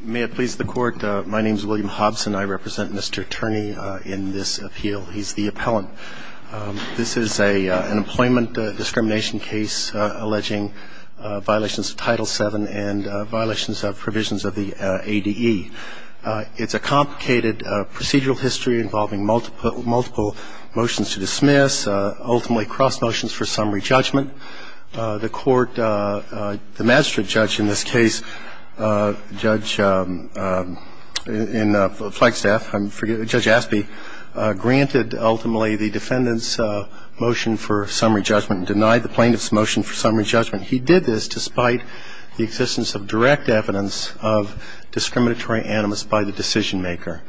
May it please the Court, my name is William Hobson. I represent Mr. Turney in this appeal. He's the appellant. This is an employment discrimination case alleging violations of Title VII and violations of provisions of the ADE. It's a complicated procedural history involving multiple motions to dismiss, ultimately cross motions for summary judgment. The Court, the magistrate judge in this case, Judge, in Flagstaff, I forget, Judge Aspey, granted ultimately the defendant's motion for summary judgment and denied the plaintiff's motion for summary judgment. He did this despite the existence of direct evidence of discriminatory animus by the decision maker.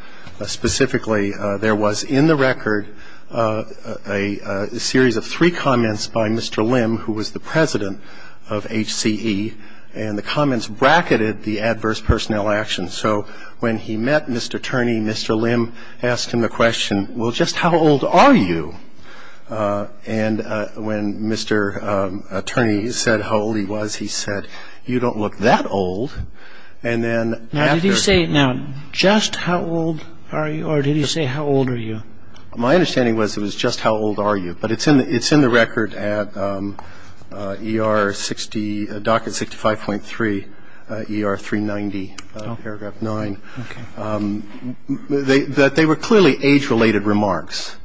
Specifically, there was in the record a series of three comments by Mr. Lim, who was the president of HCE, and the comments bracketed the adverse personnel action. So when he met Mr. Turney, Mr. Lim asked him the question, well, just how old are you? And when Mr. Turney said how old he was, he said, you don't look that old. And then after... Now, did he say, now, just how old are you, or did he say how old are you? My understanding was it was just how old are you. But it's in the record at ER 60, docket 65.3, ER 390, paragraph 9. Okay. That they were clearly age-related remarks.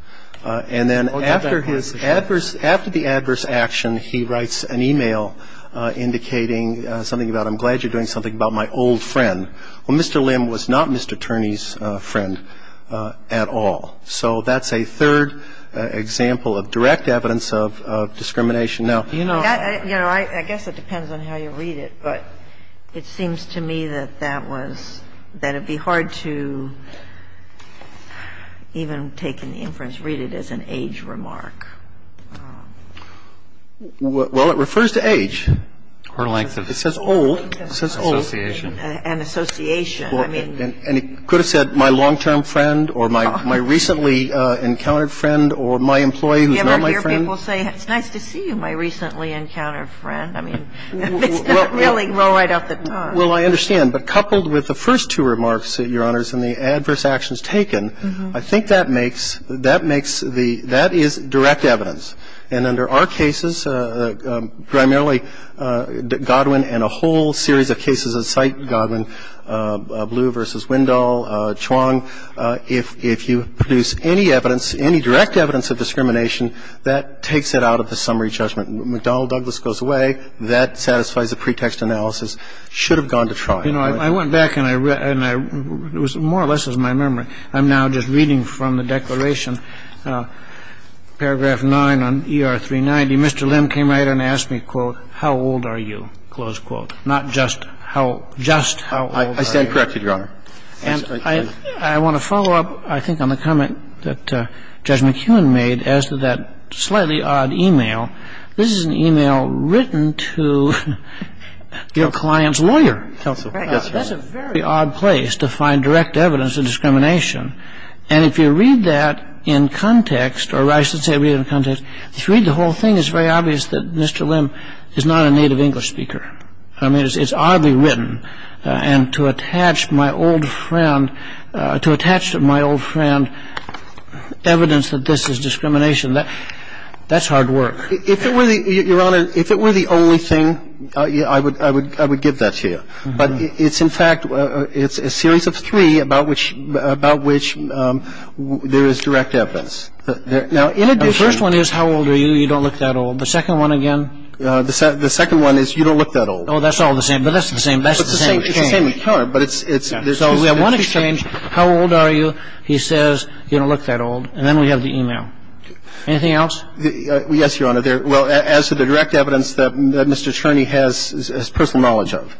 And then after the adverse action, he writes an email indicating something about, I'm glad you're doing something about my old friend. Well, Mr. Lim was not Mr. Turney's friend at all. So that's a third example of direct evidence of discrimination. Now, you know... You know, I guess it depends on how you read it, but it seems to me that that was that it would be hard to even take in the inference, read it as an age remark. Well, it refers to age. Or length of age. It says old. It says old. Association. An association. I mean... And he could have said my long-term friend or my recently encountered friend or my employee who's now my friend. You ever hear people say, it's nice to see you, my recently encountered friend? I mean, it's not really well right off the top. Well, I understand. But coupled with the first two remarks, Your Honors, and the adverse actions taken, I think that makes the – that is direct evidence. And under our cases, primarily Godwin and a whole series of cases at site, Godwin, Blue v. Wendell, Chuang, if you produce any evidence, any direct evidence of discrimination, that takes it out of the summary judgment. McDonnell-Douglas goes away. That satisfies the pretext analysis. Should have gone to trial. You know, I went back and I – it was more or less my memory. I'm now just reading from the declaration. Paragraph 9 on ER 390, Mr. Lim came right in and asked me, quote, how old are you, close quote. Not just how – just how old are you. I stand corrected, Your Honor. And I want to follow up, I think, on the comment that Judge McEwen made as to that slightly odd email. This is an email written to your client's lawyer. Yes, Your Honor. That's a very odd place to find direct evidence of discrimination. And if you read that in context, or I should say read it in context, if you read the whole thing, it's very obvious that Mr. Lim is not a native English speaker. I mean, it's oddly written. And to attach my old friend – to attach to my old friend evidence that this is discrimination, that's hard work. If it were the – Your Honor, if it were the only thing, I would give that to you. But it's in fact – it's a series of three about which – about which there is direct evidence. Now, in addition – The first one is how old are you, you don't look that old. The second one, again – The second one is you don't look that old. Oh, that's all the same. But that's the same – that's the same exchange. It's the same in color, but it's – So we have one exchange, how old are you, he says, you don't look that old. And then we have the email. Anything else? Yes, Your Honor. Well, as to the direct evidence that Mr. Cherney has personal knowledge of.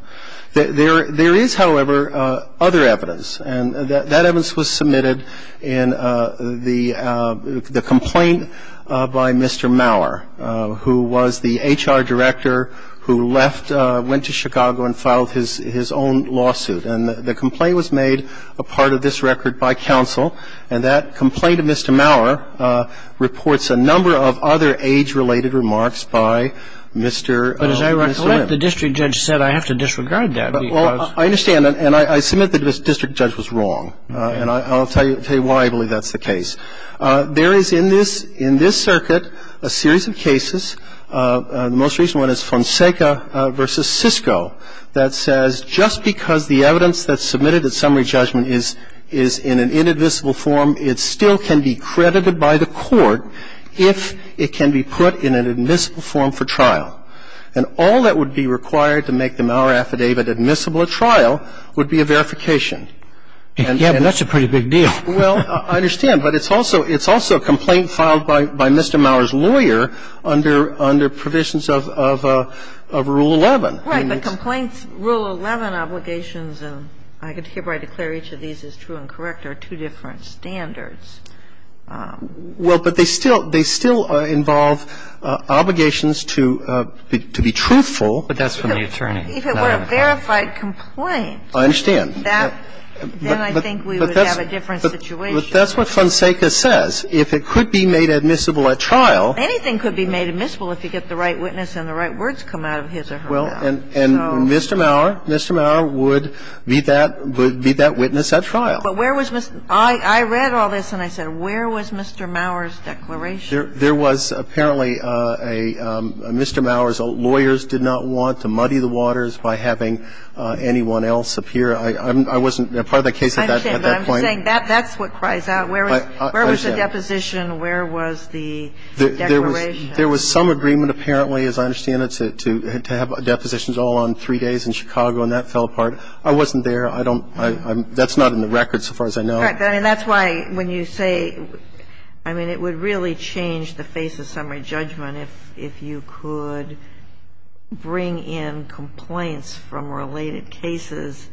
There is, however, other evidence. And that evidence was submitted in the complaint by Mr. Maurer, who was the HR director who left – went to Chicago and filed his own lawsuit. And the complaint was made a part of this record by counsel. And that complaint of Mr. Maurer reports a number of other age-related remarks by Mr. – But as I recollect, the district judge said I have to disregard that because – Well, I understand. And I submit that the district judge was wrong. And I'll tell you why I believe that's the case. There is in this – in this circuit a series of cases. The most recent one is Fonseca v. Cisco that says just because the evidence that's been submitted is in an admissible form, it still can be credited by the court if it can be put in an admissible form for trial. And all that would be required to make the Maurer affidavit admissible at trial would be a verification. And that's a pretty big deal. Well, I understand. But it's also – it's also a complaint filed by Mr. Maurer's lawyer under – under provisions of Rule 11. And it's – Right. But complaints, Rule 11 obligations, and I could hereby declare each of these as true and correct, are two different standards. Well, but they still – they still involve obligations to be truthful. But that's from the attorney. If it were a verified complaint – I understand. That – then I think we would have a different situation. But that's what Fonseca says. If it could be made admissible at trial – And Mr. Maurer – Mr. Maurer would be that – would be that witness at trial. But where was – I read all this and I said, where was Mr. Maurer's declaration? There was apparently a – Mr. Maurer's lawyers did not want to muddy the waters by having anyone else appear. I wasn't part of the case at that point. I understand. But I'm just saying that's what cries out. Where was the deposition? Where was the declaration? There was some agreement, apparently, as I understand it, to have depositions all on three days in Chicago, and that fell apart. I wasn't there. I don't – that's not in the record so far as I know. Right. I mean, that's why when you say – I mean, it would really change the face of summary judgment if you could bring in complaints from related cases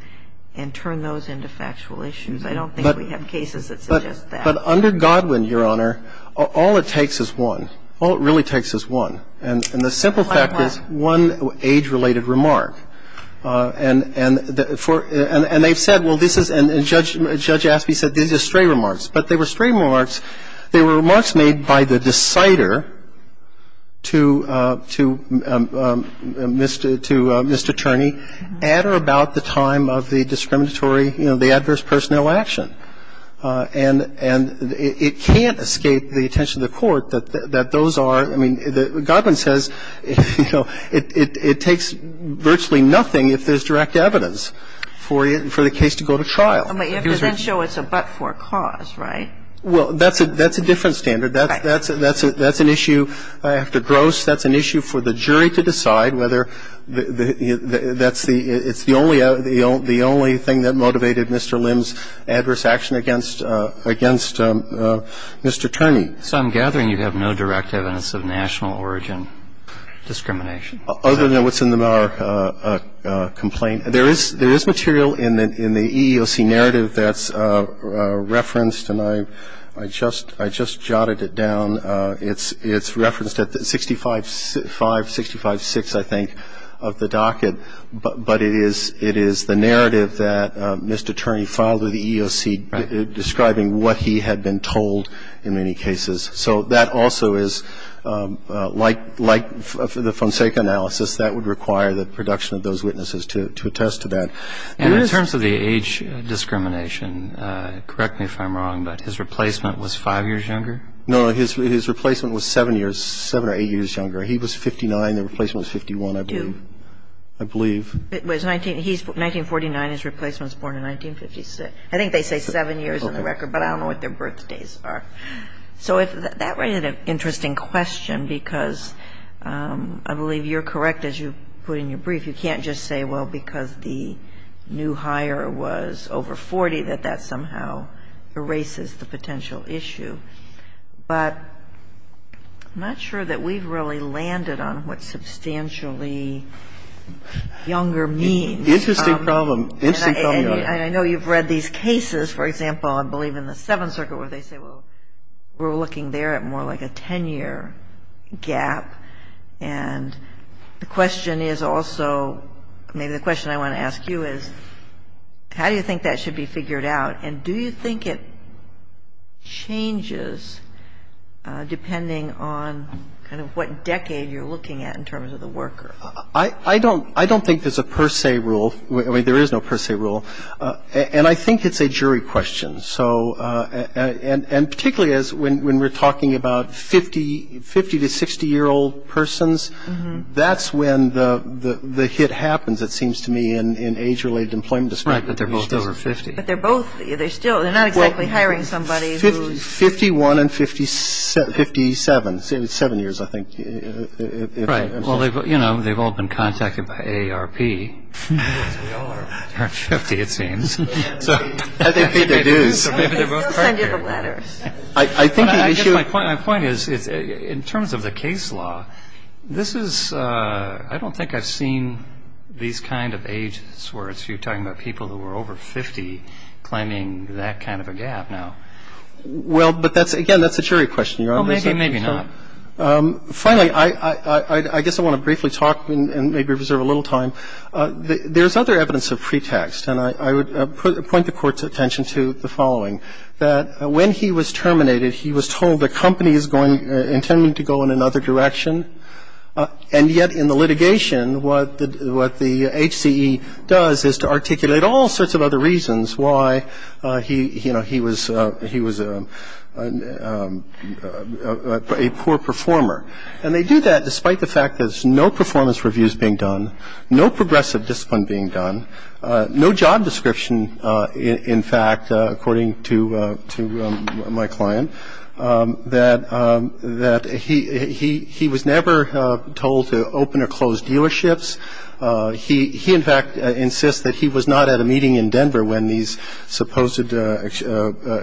and turn those into factual issues. I don't think we have cases that suggest that. But under Godwin, Your Honor, all it takes is one. All it really takes is one. And the simple fact is one age-related remark. And they've said, well, this is – and Judge Aspey said, these are stray remarks. But they were stray remarks. They were remarks made by the decider to Mr. Turney at or about the time of the discriminatory – you know, the adverse personnel action. And it can't escape the attention of the Court that those are – I mean, Godwin says, you know, it takes virtually nothing if there's direct evidence for the case to go to trial. But you have to then show it's a but-for cause, right? Well, that's a different standard. That's an issue after gross. That's an issue for the jury to decide whether that's the – it's the only thing that motivated Mr. Lim's adverse action against Mr. Turney. So I'm gathering you have no direct evidence of national origin discrimination. Other than what's in the complaint. There is material in the EEOC narrative that's referenced, and I just jotted it down. It's referenced at 65-5, 65-6, I think, of the docket. But it is the narrative that Mr. Turney filed with the EEOC describing what he had been told in many cases. So that also is, like the Fonseca analysis, that would require the production of those witnesses to attest to that. And in terms of the age discrimination, correct me if I'm wrong, but his replacement was five years younger? No, his replacement was seven years – seven or eight years younger. He was 59. The replacement was 51, I believe. It was 19 – he's 1949. His replacement was born in 1956. I think they say seven years on the record, but I don't know what their birthdays are. So that raises an interesting question, because I believe you're correct, as you put in your brief, you can't just say, well, because the new hire was over 40, that that somehow erases the potential issue. But I'm not sure that we've really landed on what substantially younger means. Interesting problem. Interesting problem. And I know you've read these cases, for example, I believe in the Seventh Circuit, where they say, well, we're looking there at more like a 10-year gap. And the question is also – maybe the question I want to ask you is, how do you think that should be figured out? And do you think it changes depending on kind of what decade you're looking at in terms of the worker? I don't think there's a per se rule. I mean, there is no per se rule. And I think it's a jury question. So – and particularly as – when we're talking about 50- to 60-year-old persons, that's when the hit happens, it seems to me, in age-related employment discrimination. Right, but they're both over 50. But they're both – they're still – they're not exactly hiring somebody who's – Well, 51 and 57. It's seven years, I think. Right. Well, you know, they've all been contacted by AARP. Yes, they are. They're 50, it seems. I think they do. So maybe they're both partners. They still send you the letters. I think the issue – My point is, in terms of the case law, this is – I don't think I've seen these kind of age – you're talking about people who are over 50 claiming that kind of a gap now. Well, but that's – again, that's a jury question, Your Honor. Maybe not. Finally, I guess I want to briefly talk and maybe reserve a little time. There's other evidence of pretext. And I would point the Court's attention to the following, that when he was terminated, he was told the company is going – intended to go in another direction. And yet, in the litigation, what the HCE does is to articulate all sorts of other reasons why, you know, he was a poor performer. And they do that despite the fact that there's no performance reviews being done, no progressive discipline being done, no job description, in fact, according to my client, that he was never told to open or close dealerships. He, in fact, insists that he was not at a meeting in Denver when these supposed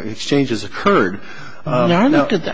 exchanges occurred. Now, I looked at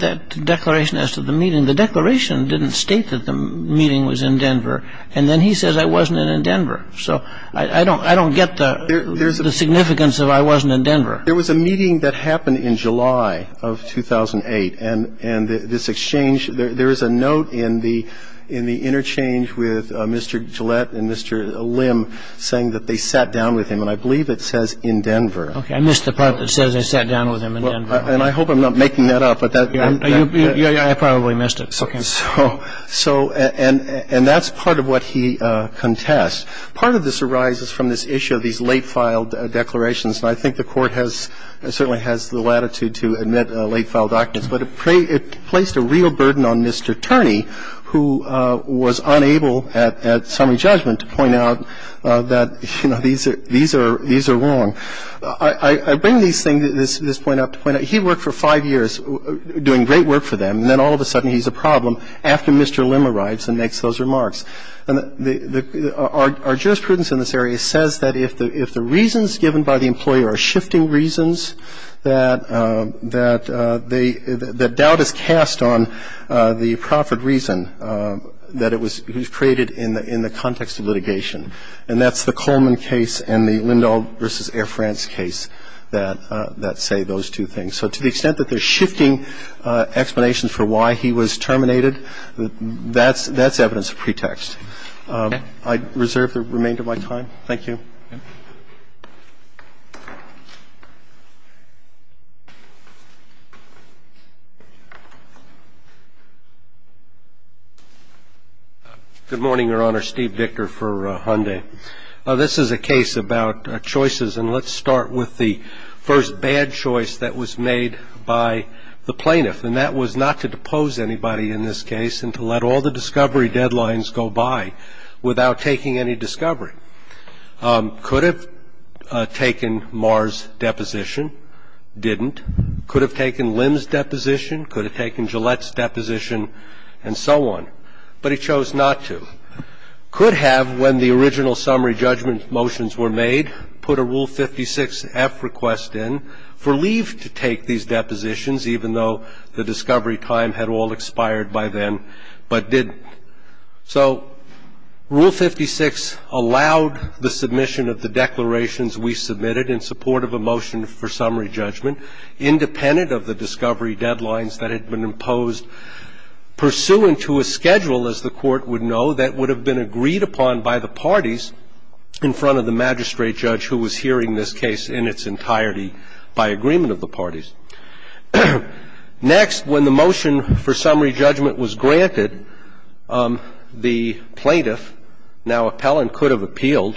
that declaration as to the meeting. The declaration didn't state that the meeting was in Denver. And then he says I wasn't in Denver. So I don't get the significance of I wasn't in Denver. There was a meeting that happened in July of 2008. And this exchange, there is a note in the interchange with Mr. Gillette and Mr. Lim saying that they sat down with him. And I believe it says in Denver. Okay. I missed the part that says they sat down with him in Denver. And I hope I'm not making that up. I probably missed it. Okay. So, and that's part of what he contests. Part of this arises from this issue of these late filed declarations. And I think the Court has, certainly has the latitude to admit late filed documents. But it placed a real burden on Mr. Turney, who was unable at summary judgment to point out that, you know, these are wrong. I bring this thing, this point up. He worked for five years doing great work for them. And then all of a sudden he's a problem after Mr. Lim arrives and makes those remarks. And our jurisprudence in this area says that if the reasons given by the employer are shifting reasons, that doubt is cast on the proper reason that it was created in the context of litigation. And that's the Coleman case and the Lindahl v. Air France case that say those two things. So to the extent that they're shifting explanations for why he was terminated, that's evidence of pretext. I reserve the remainder of my time. Thank you. Good morning, Your Honor. Steve Victor for Hyundai. This is a case about choices. And let's start with the first bad choice that was made by the plaintiff. And that was not to depose anybody in this case and to let all the discovery deadlines go by without taking any discovery. Could have taken Maher's deposition, didn't. Could have taken Lim's deposition. Could have taken Gillette's deposition and so on. But he chose not to. Could have, when the original summary judgment motions were made, put a Rule 56F request in for leave to take these depositions, even though the discovery time had all expired by then, but didn't. So Rule 56 allowed the submission of the declarations we submitted in support of a motion for summary judgment independent of the discovery deadlines that had been imposed, pursuant to a schedule, as the Court would know, that would have been agreed upon by the parties in front of the magistrate judge who was hearing this case in its entirety by agreement of the parties. Next, when the motion for summary judgment was granted, the plaintiff, now appellant, could have appealed,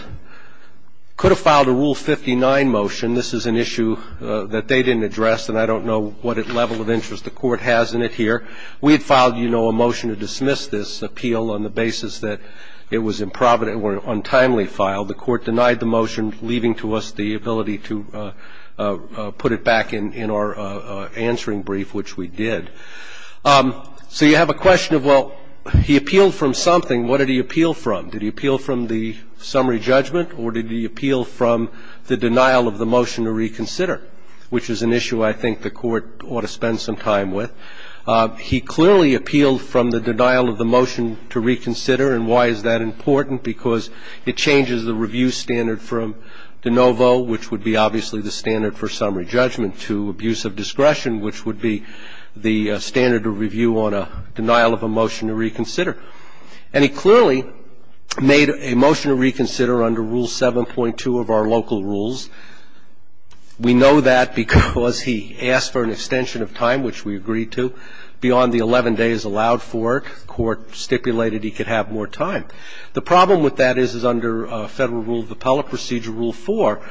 could have filed a Rule 59 motion. This is an issue that they didn't address, and I don't know what level of interest the Court has in it here. We had filed, you know, a motion to dismiss this appeal on the basis that it was improvident or untimely filed. The Court denied the motion, leaving to us the ability to put it back in our answering brief, which we did. So you have a question of, well, he appealed from something. What did he appeal from? Did he appeal from the summary judgment, or did he appeal from the denial of the motion to reconsider, which is an issue I think the Court ought to spend some time with. He clearly appealed from the denial of the motion to reconsider. And why is that important? Because it changes the review standard from de novo, which would be obviously the standard for summary judgment, to abuse of discretion, which would be the standard of review on a denial of a motion to reconsider. And he clearly made a motion to reconsider under Rule 7.2 of our local rules. We know that because he asked for an extension of time, which we agreed to. Beyond the 11 days allowed for, the Court stipulated he could have more time. The problem with that is, is under Federal Rule of Appellate Procedure, Rule 4,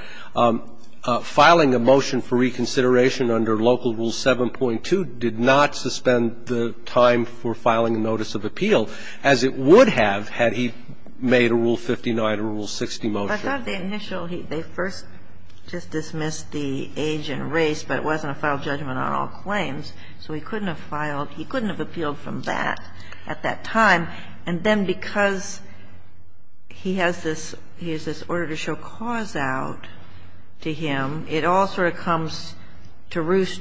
filing a motion for reconsideration under local Rule 7.2 did not suspend the time for filing a notice of appeal, as it would have had he made a Rule 59 or a Rule 60 motion. And if I thought of the initial, they first just dismissed the age and race, but it wasn't a filed judgment on all claims, so he couldn't have filed, he couldn't have appealed from that at that time. And then because he has this, he has this order to show cause out to him, it all sort of comes to roost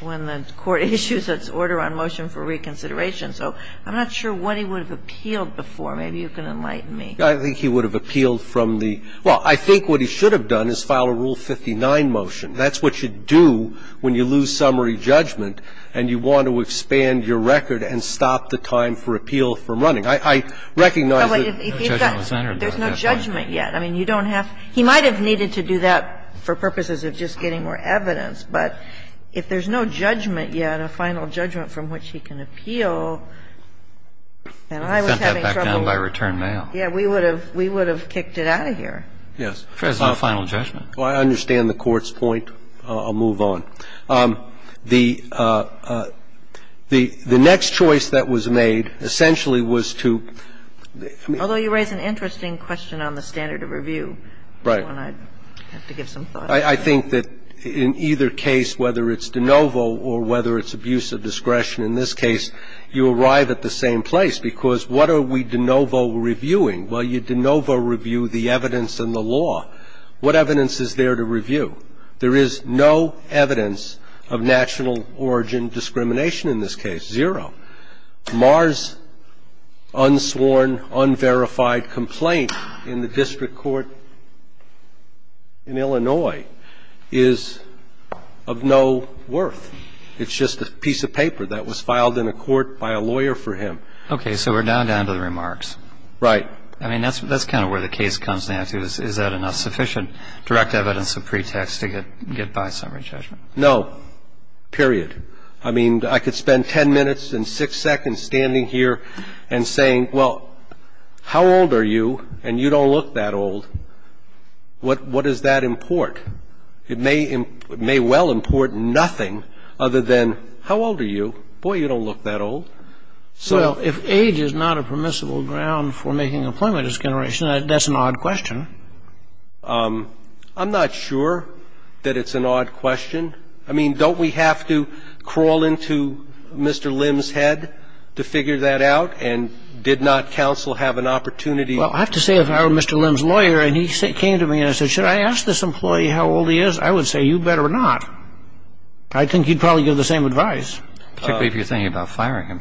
when the Court issues its order on motion for reconsideration. So I'm not sure what he would have appealed before. Maybe you can enlighten me. I think he would have appealed from the – well, I think what he should have done is file a Rule 59 motion. That's what you do when you lose summary judgment and you want to expand your record and stop the time for appeal from running. I recognize that he's got to do that. There's no judgment yet. I mean, you don't have – he might have needed to do that for purposes of just getting more evidence, but if there's no judgment yet, a final judgment from which he can appeal, then I was having trouble. He sent that back down by return mail. Yeah, we would have – we would have kicked it out of here. Yes. If there's no final judgment. Well, I understand the Court's point. I'll move on. The next choice that was made essentially was to – Although you raise an interesting question on the standard of review. Right. I have to give some thought. I think that in either case, whether it's de novo or whether it's abuse of discretion in this case, you arrive at the same place because what are we de novo reviewing? Well, you de novo review the evidence and the law. What evidence is there to review? There is no evidence of national origin discrimination in this case, zero. Mars' unsworn, unverified complaint in the District Court in Illinois is of no worth. It's just a piece of paper that was filed in a court by a lawyer for him. Okay. So we're now down to the remarks. Right. I mean, that's kind of where the case comes down to. Is that enough sufficient direct evidence of pretext to get by summary judgment? No, period. I mean, I could spend ten minutes and six seconds standing here and saying, well, how old are you, and you don't look that old, what does that import? It may well import nothing other than, how old are you, boy, you don't look that old. Well, if age is not a permissible ground for making employment discrimination, that's an odd question. I'm not sure that it's an odd question. I mean, don't we have to crawl into Mr. Lim's head to figure that out? And did not counsel have an opportunity? Well, I have to say, if I were Mr. Lim's lawyer and he came to me and said, should I ask this employee how old he is, I would say, you better not. I think he'd probably give the same advice. Particularly if you're thinking about firing him.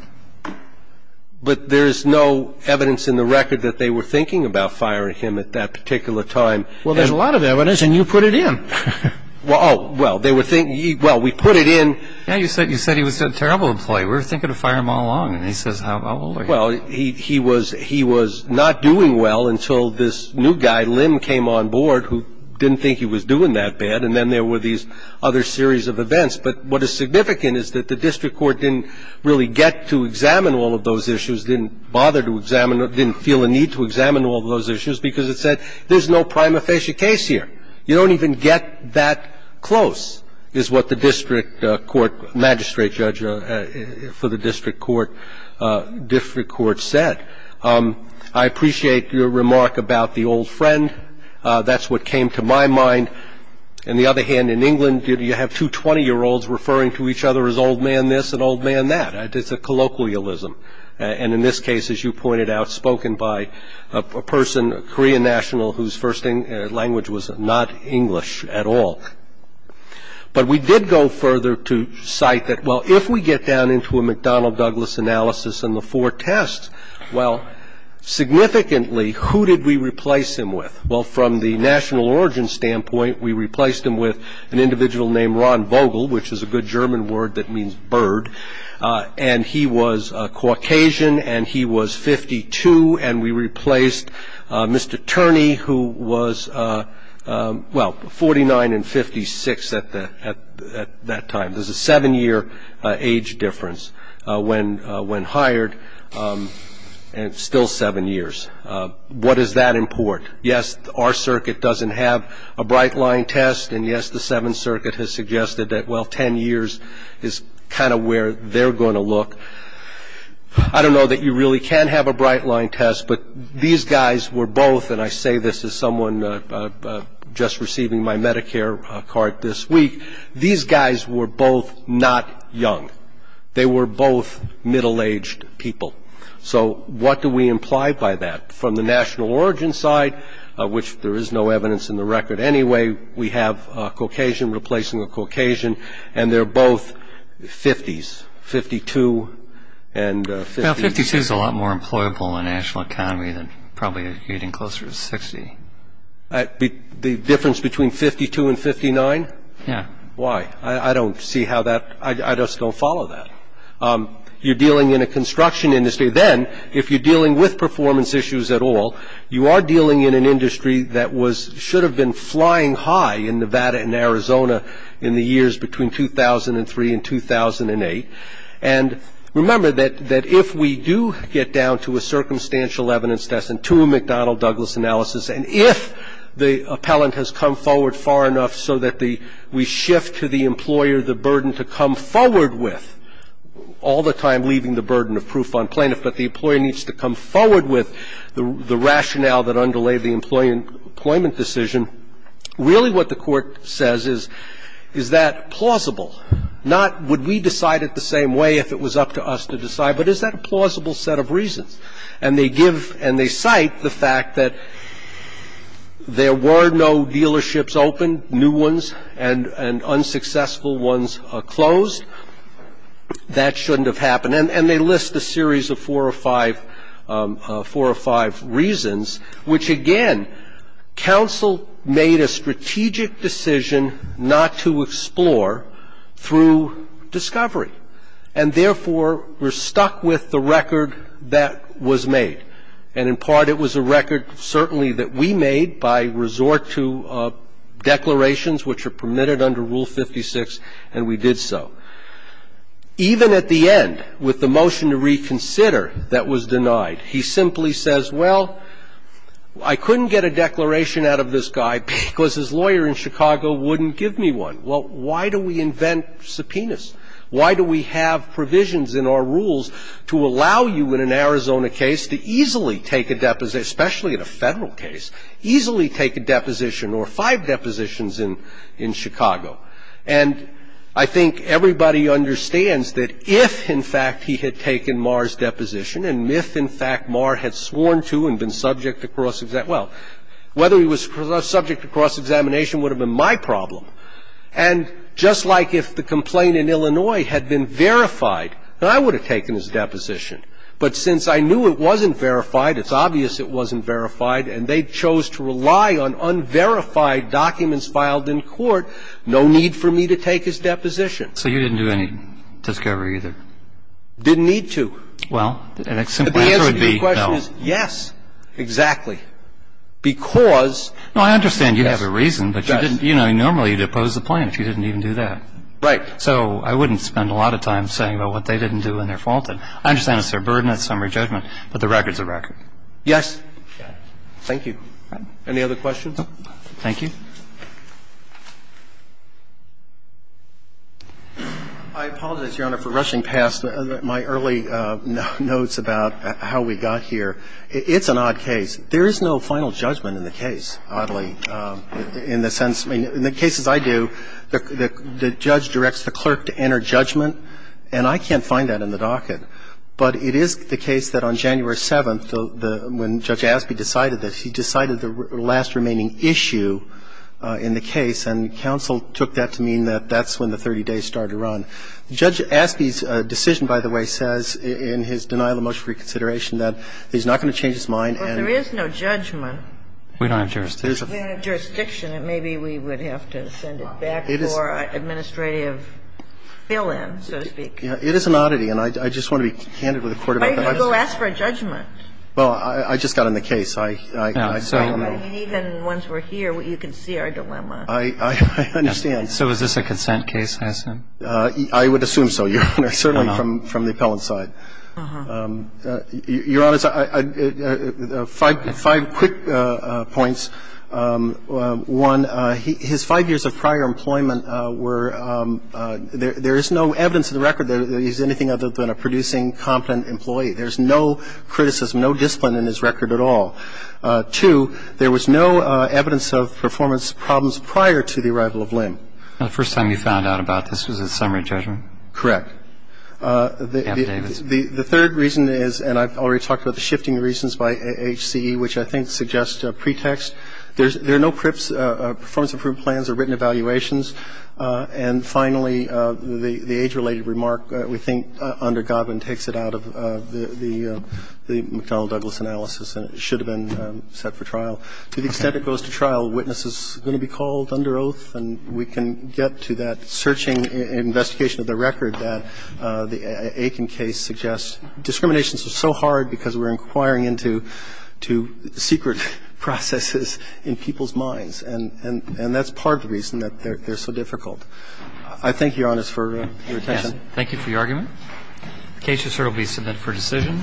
But there's no evidence in the record that they were thinking about firing him at that particular time. Well, there's a lot of evidence, and you put it in. Well, they were thinking, well, we put it in. Yeah, you said he was a terrible employee. We were thinking of firing him all along, and he says, how old are you? Well, he was not doing well until this new guy, Lim, came on board, who didn't think he was doing that bad, and then there were these other series of events. But what is significant is that the district court didn't really get to examine all of those issues, didn't bother to examine them, didn't feel a need to examine all of those issues, because it said there's no prima facie case here. You don't even get that close, is what the district court magistrate judge for the district court said. I appreciate your remark about the old friend. That's what came to my mind. On the other hand, in England, you have two 20-year-olds referring to each other as old man this and old man that. It's a colloquialism. And in this case, as you pointed out, spoken by a person, a Korean national, whose first language was not English at all. But we did go further to cite that, well, if we get down into a McDonnell-Douglas analysis and the four tests, well, significantly, who did we replace him with? Well, from the national origin standpoint, we replaced him with an individual named Ron Vogel, which is a good German word that means bird. And he was a Caucasian, and he was 52. And we replaced Mr. Turney, who was, well, 49 and 56 at that time. There's a seven-year age difference when hired, and still seven years. What does that import? Yes, our circuit doesn't have a bright-line test. And yes, the Seventh Circuit has suggested that, well, 10 years is kind of where they're going to look. I don't know that you really can have a bright-line test. But these guys were both, and I say this as someone just receiving my Medicare card this week, these guys were both not young. They were both middle-aged people. So what do we imply by that? From the national origin side, which there is no evidence in the record anyway, we have a Caucasian replacing a Caucasian. And they're both 50s, 52 and 50. Now, 52 is a lot more employable in the national economy than probably getting closer to 60. The difference between 52 and 59? Yeah. Why? I don't see how that, I just don't follow that. You're dealing in a construction industry. Then, if you're dealing with performance issues at all, you are dealing in an industry that was, should have been flying high in Nevada and Arizona in the years between 2003 and 2008. And remember that if we do get down to a circumstantial evidence test and to a McDonnell-Douglas analysis, and if the appellant has come forward far enough so that we shift to the employer the burden to come forward with, all the time leaving the burden of proof on plaintiff, but the employer needs to come forward with the rationale that underlay the employment decision, really what the court says is, is that plausible? Not would we decide it the same way if it was up to us to decide, but is that a plausible set of reasons? And they give, and they cite the fact that there were no dealerships open, new ones, and unsuccessful ones closed. That shouldn't have happened. And they list a series of four or five reasons, which again, counsel made a strategic decision not to explore through discovery. And therefore, we're stuck with the record that was made. And in part, it was a record certainly that we made by resort to declarations, which are permitted under Rule 56, and we did so. Even at the end, with the motion to reconsider that was denied, he simply says, well, I couldn't get a declaration out of this guy because his lawyer in Chicago wouldn't give me one. Well, why do we invent subpoenas? Why do we have provisions in our rules to allow you, in an Arizona case, to easily take a deposit, especially in a federal case, easily take a deposition or five depositions in Chicago? And I think everybody understands that if, in fact, he had taken Marr's deposition and if, in fact, Marr had sworn to and been subject to cross-examination, well, whether he was subject to cross-examination would have been my problem. And just like if the complaint in Illinois had been verified, then I would have taken his deposition. But since I knew it wasn't verified, it's obvious it wasn't verified, and they chose to rely on unverified documents filed in court, no need for me to take his deposition. So you didn't do any discovery either? Didn't need to. Well, the answer would be no. Yes, exactly. Because- No, I understand you have a reason, but you didn't. Normally, you'd oppose the plan if you didn't even do that. Right. So I wouldn't spend a lot of time saying about what they didn't do and they're faulted. I understand it's their burden, it's summary judgment, but the record's a record. Yes. Thank you. Any other questions? Thank you. I apologize, Your Honor, for rushing past my early notes about how we got here. It's an odd case. There is no final judgment in the case, oddly, in the sense – I mean, in the cases I do, the judge directs the clerk to enter judgment, and I can't find that in the docket, but it is the case that on January 7th, when Judge Aspey decided that, he decided the last remaining issue in the case, and counsel took that to mean that that's when the 30 days started to run. Judge Aspey's decision, by the way, says in his denial of motion for reconsideration that he's not going to change his mind and- So you're saying that the judge has no judgment? We don't have jurisdiction. We don't have jurisdiction, and maybe we would have to send it back for administrative fill-in, so to speak. It is an oddity, and I just want to be candid with the Court about that. Why didn't you go ask for a judgment? Well, I just got on the case. I so- Even once we're here, you can see our dilemma. I understand. So is this a consent case, I assume? I would assume so, Your Honor, certainly from the appellant's side. Uh-huh. Your Honor, five quick points. One, his five years of prior employment were – there is no evidence in the record that he's anything other than a producing, competent employee. There's no criticism, no discipline in his record at all. Two, there was no evidence of performance problems prior to the arrival of Lim. The first time you found out about this was at summary judgment? Correct. The third reason is – and I've already talked about the shifting reasons by HCE, which I think suggests a pretext. There are no performance-improved plans or written evaluations. And finally, the age-related remark, we think, under Godwin, takes it out of the McDonnell-Douglas analysis, and it should have been set for trial. To the extent it goes to trial, a witness is going to be called under oath, and we can get to that searching and investigation of the record that the Aiken case suggests. Discrimination is so hard because we're inquiring into secret processes in people's minds, and that's part of the reason that they're so difficult. I thank you, Your Honor, for your attention. Thank you for your argument. The case is here to be submitted for decision.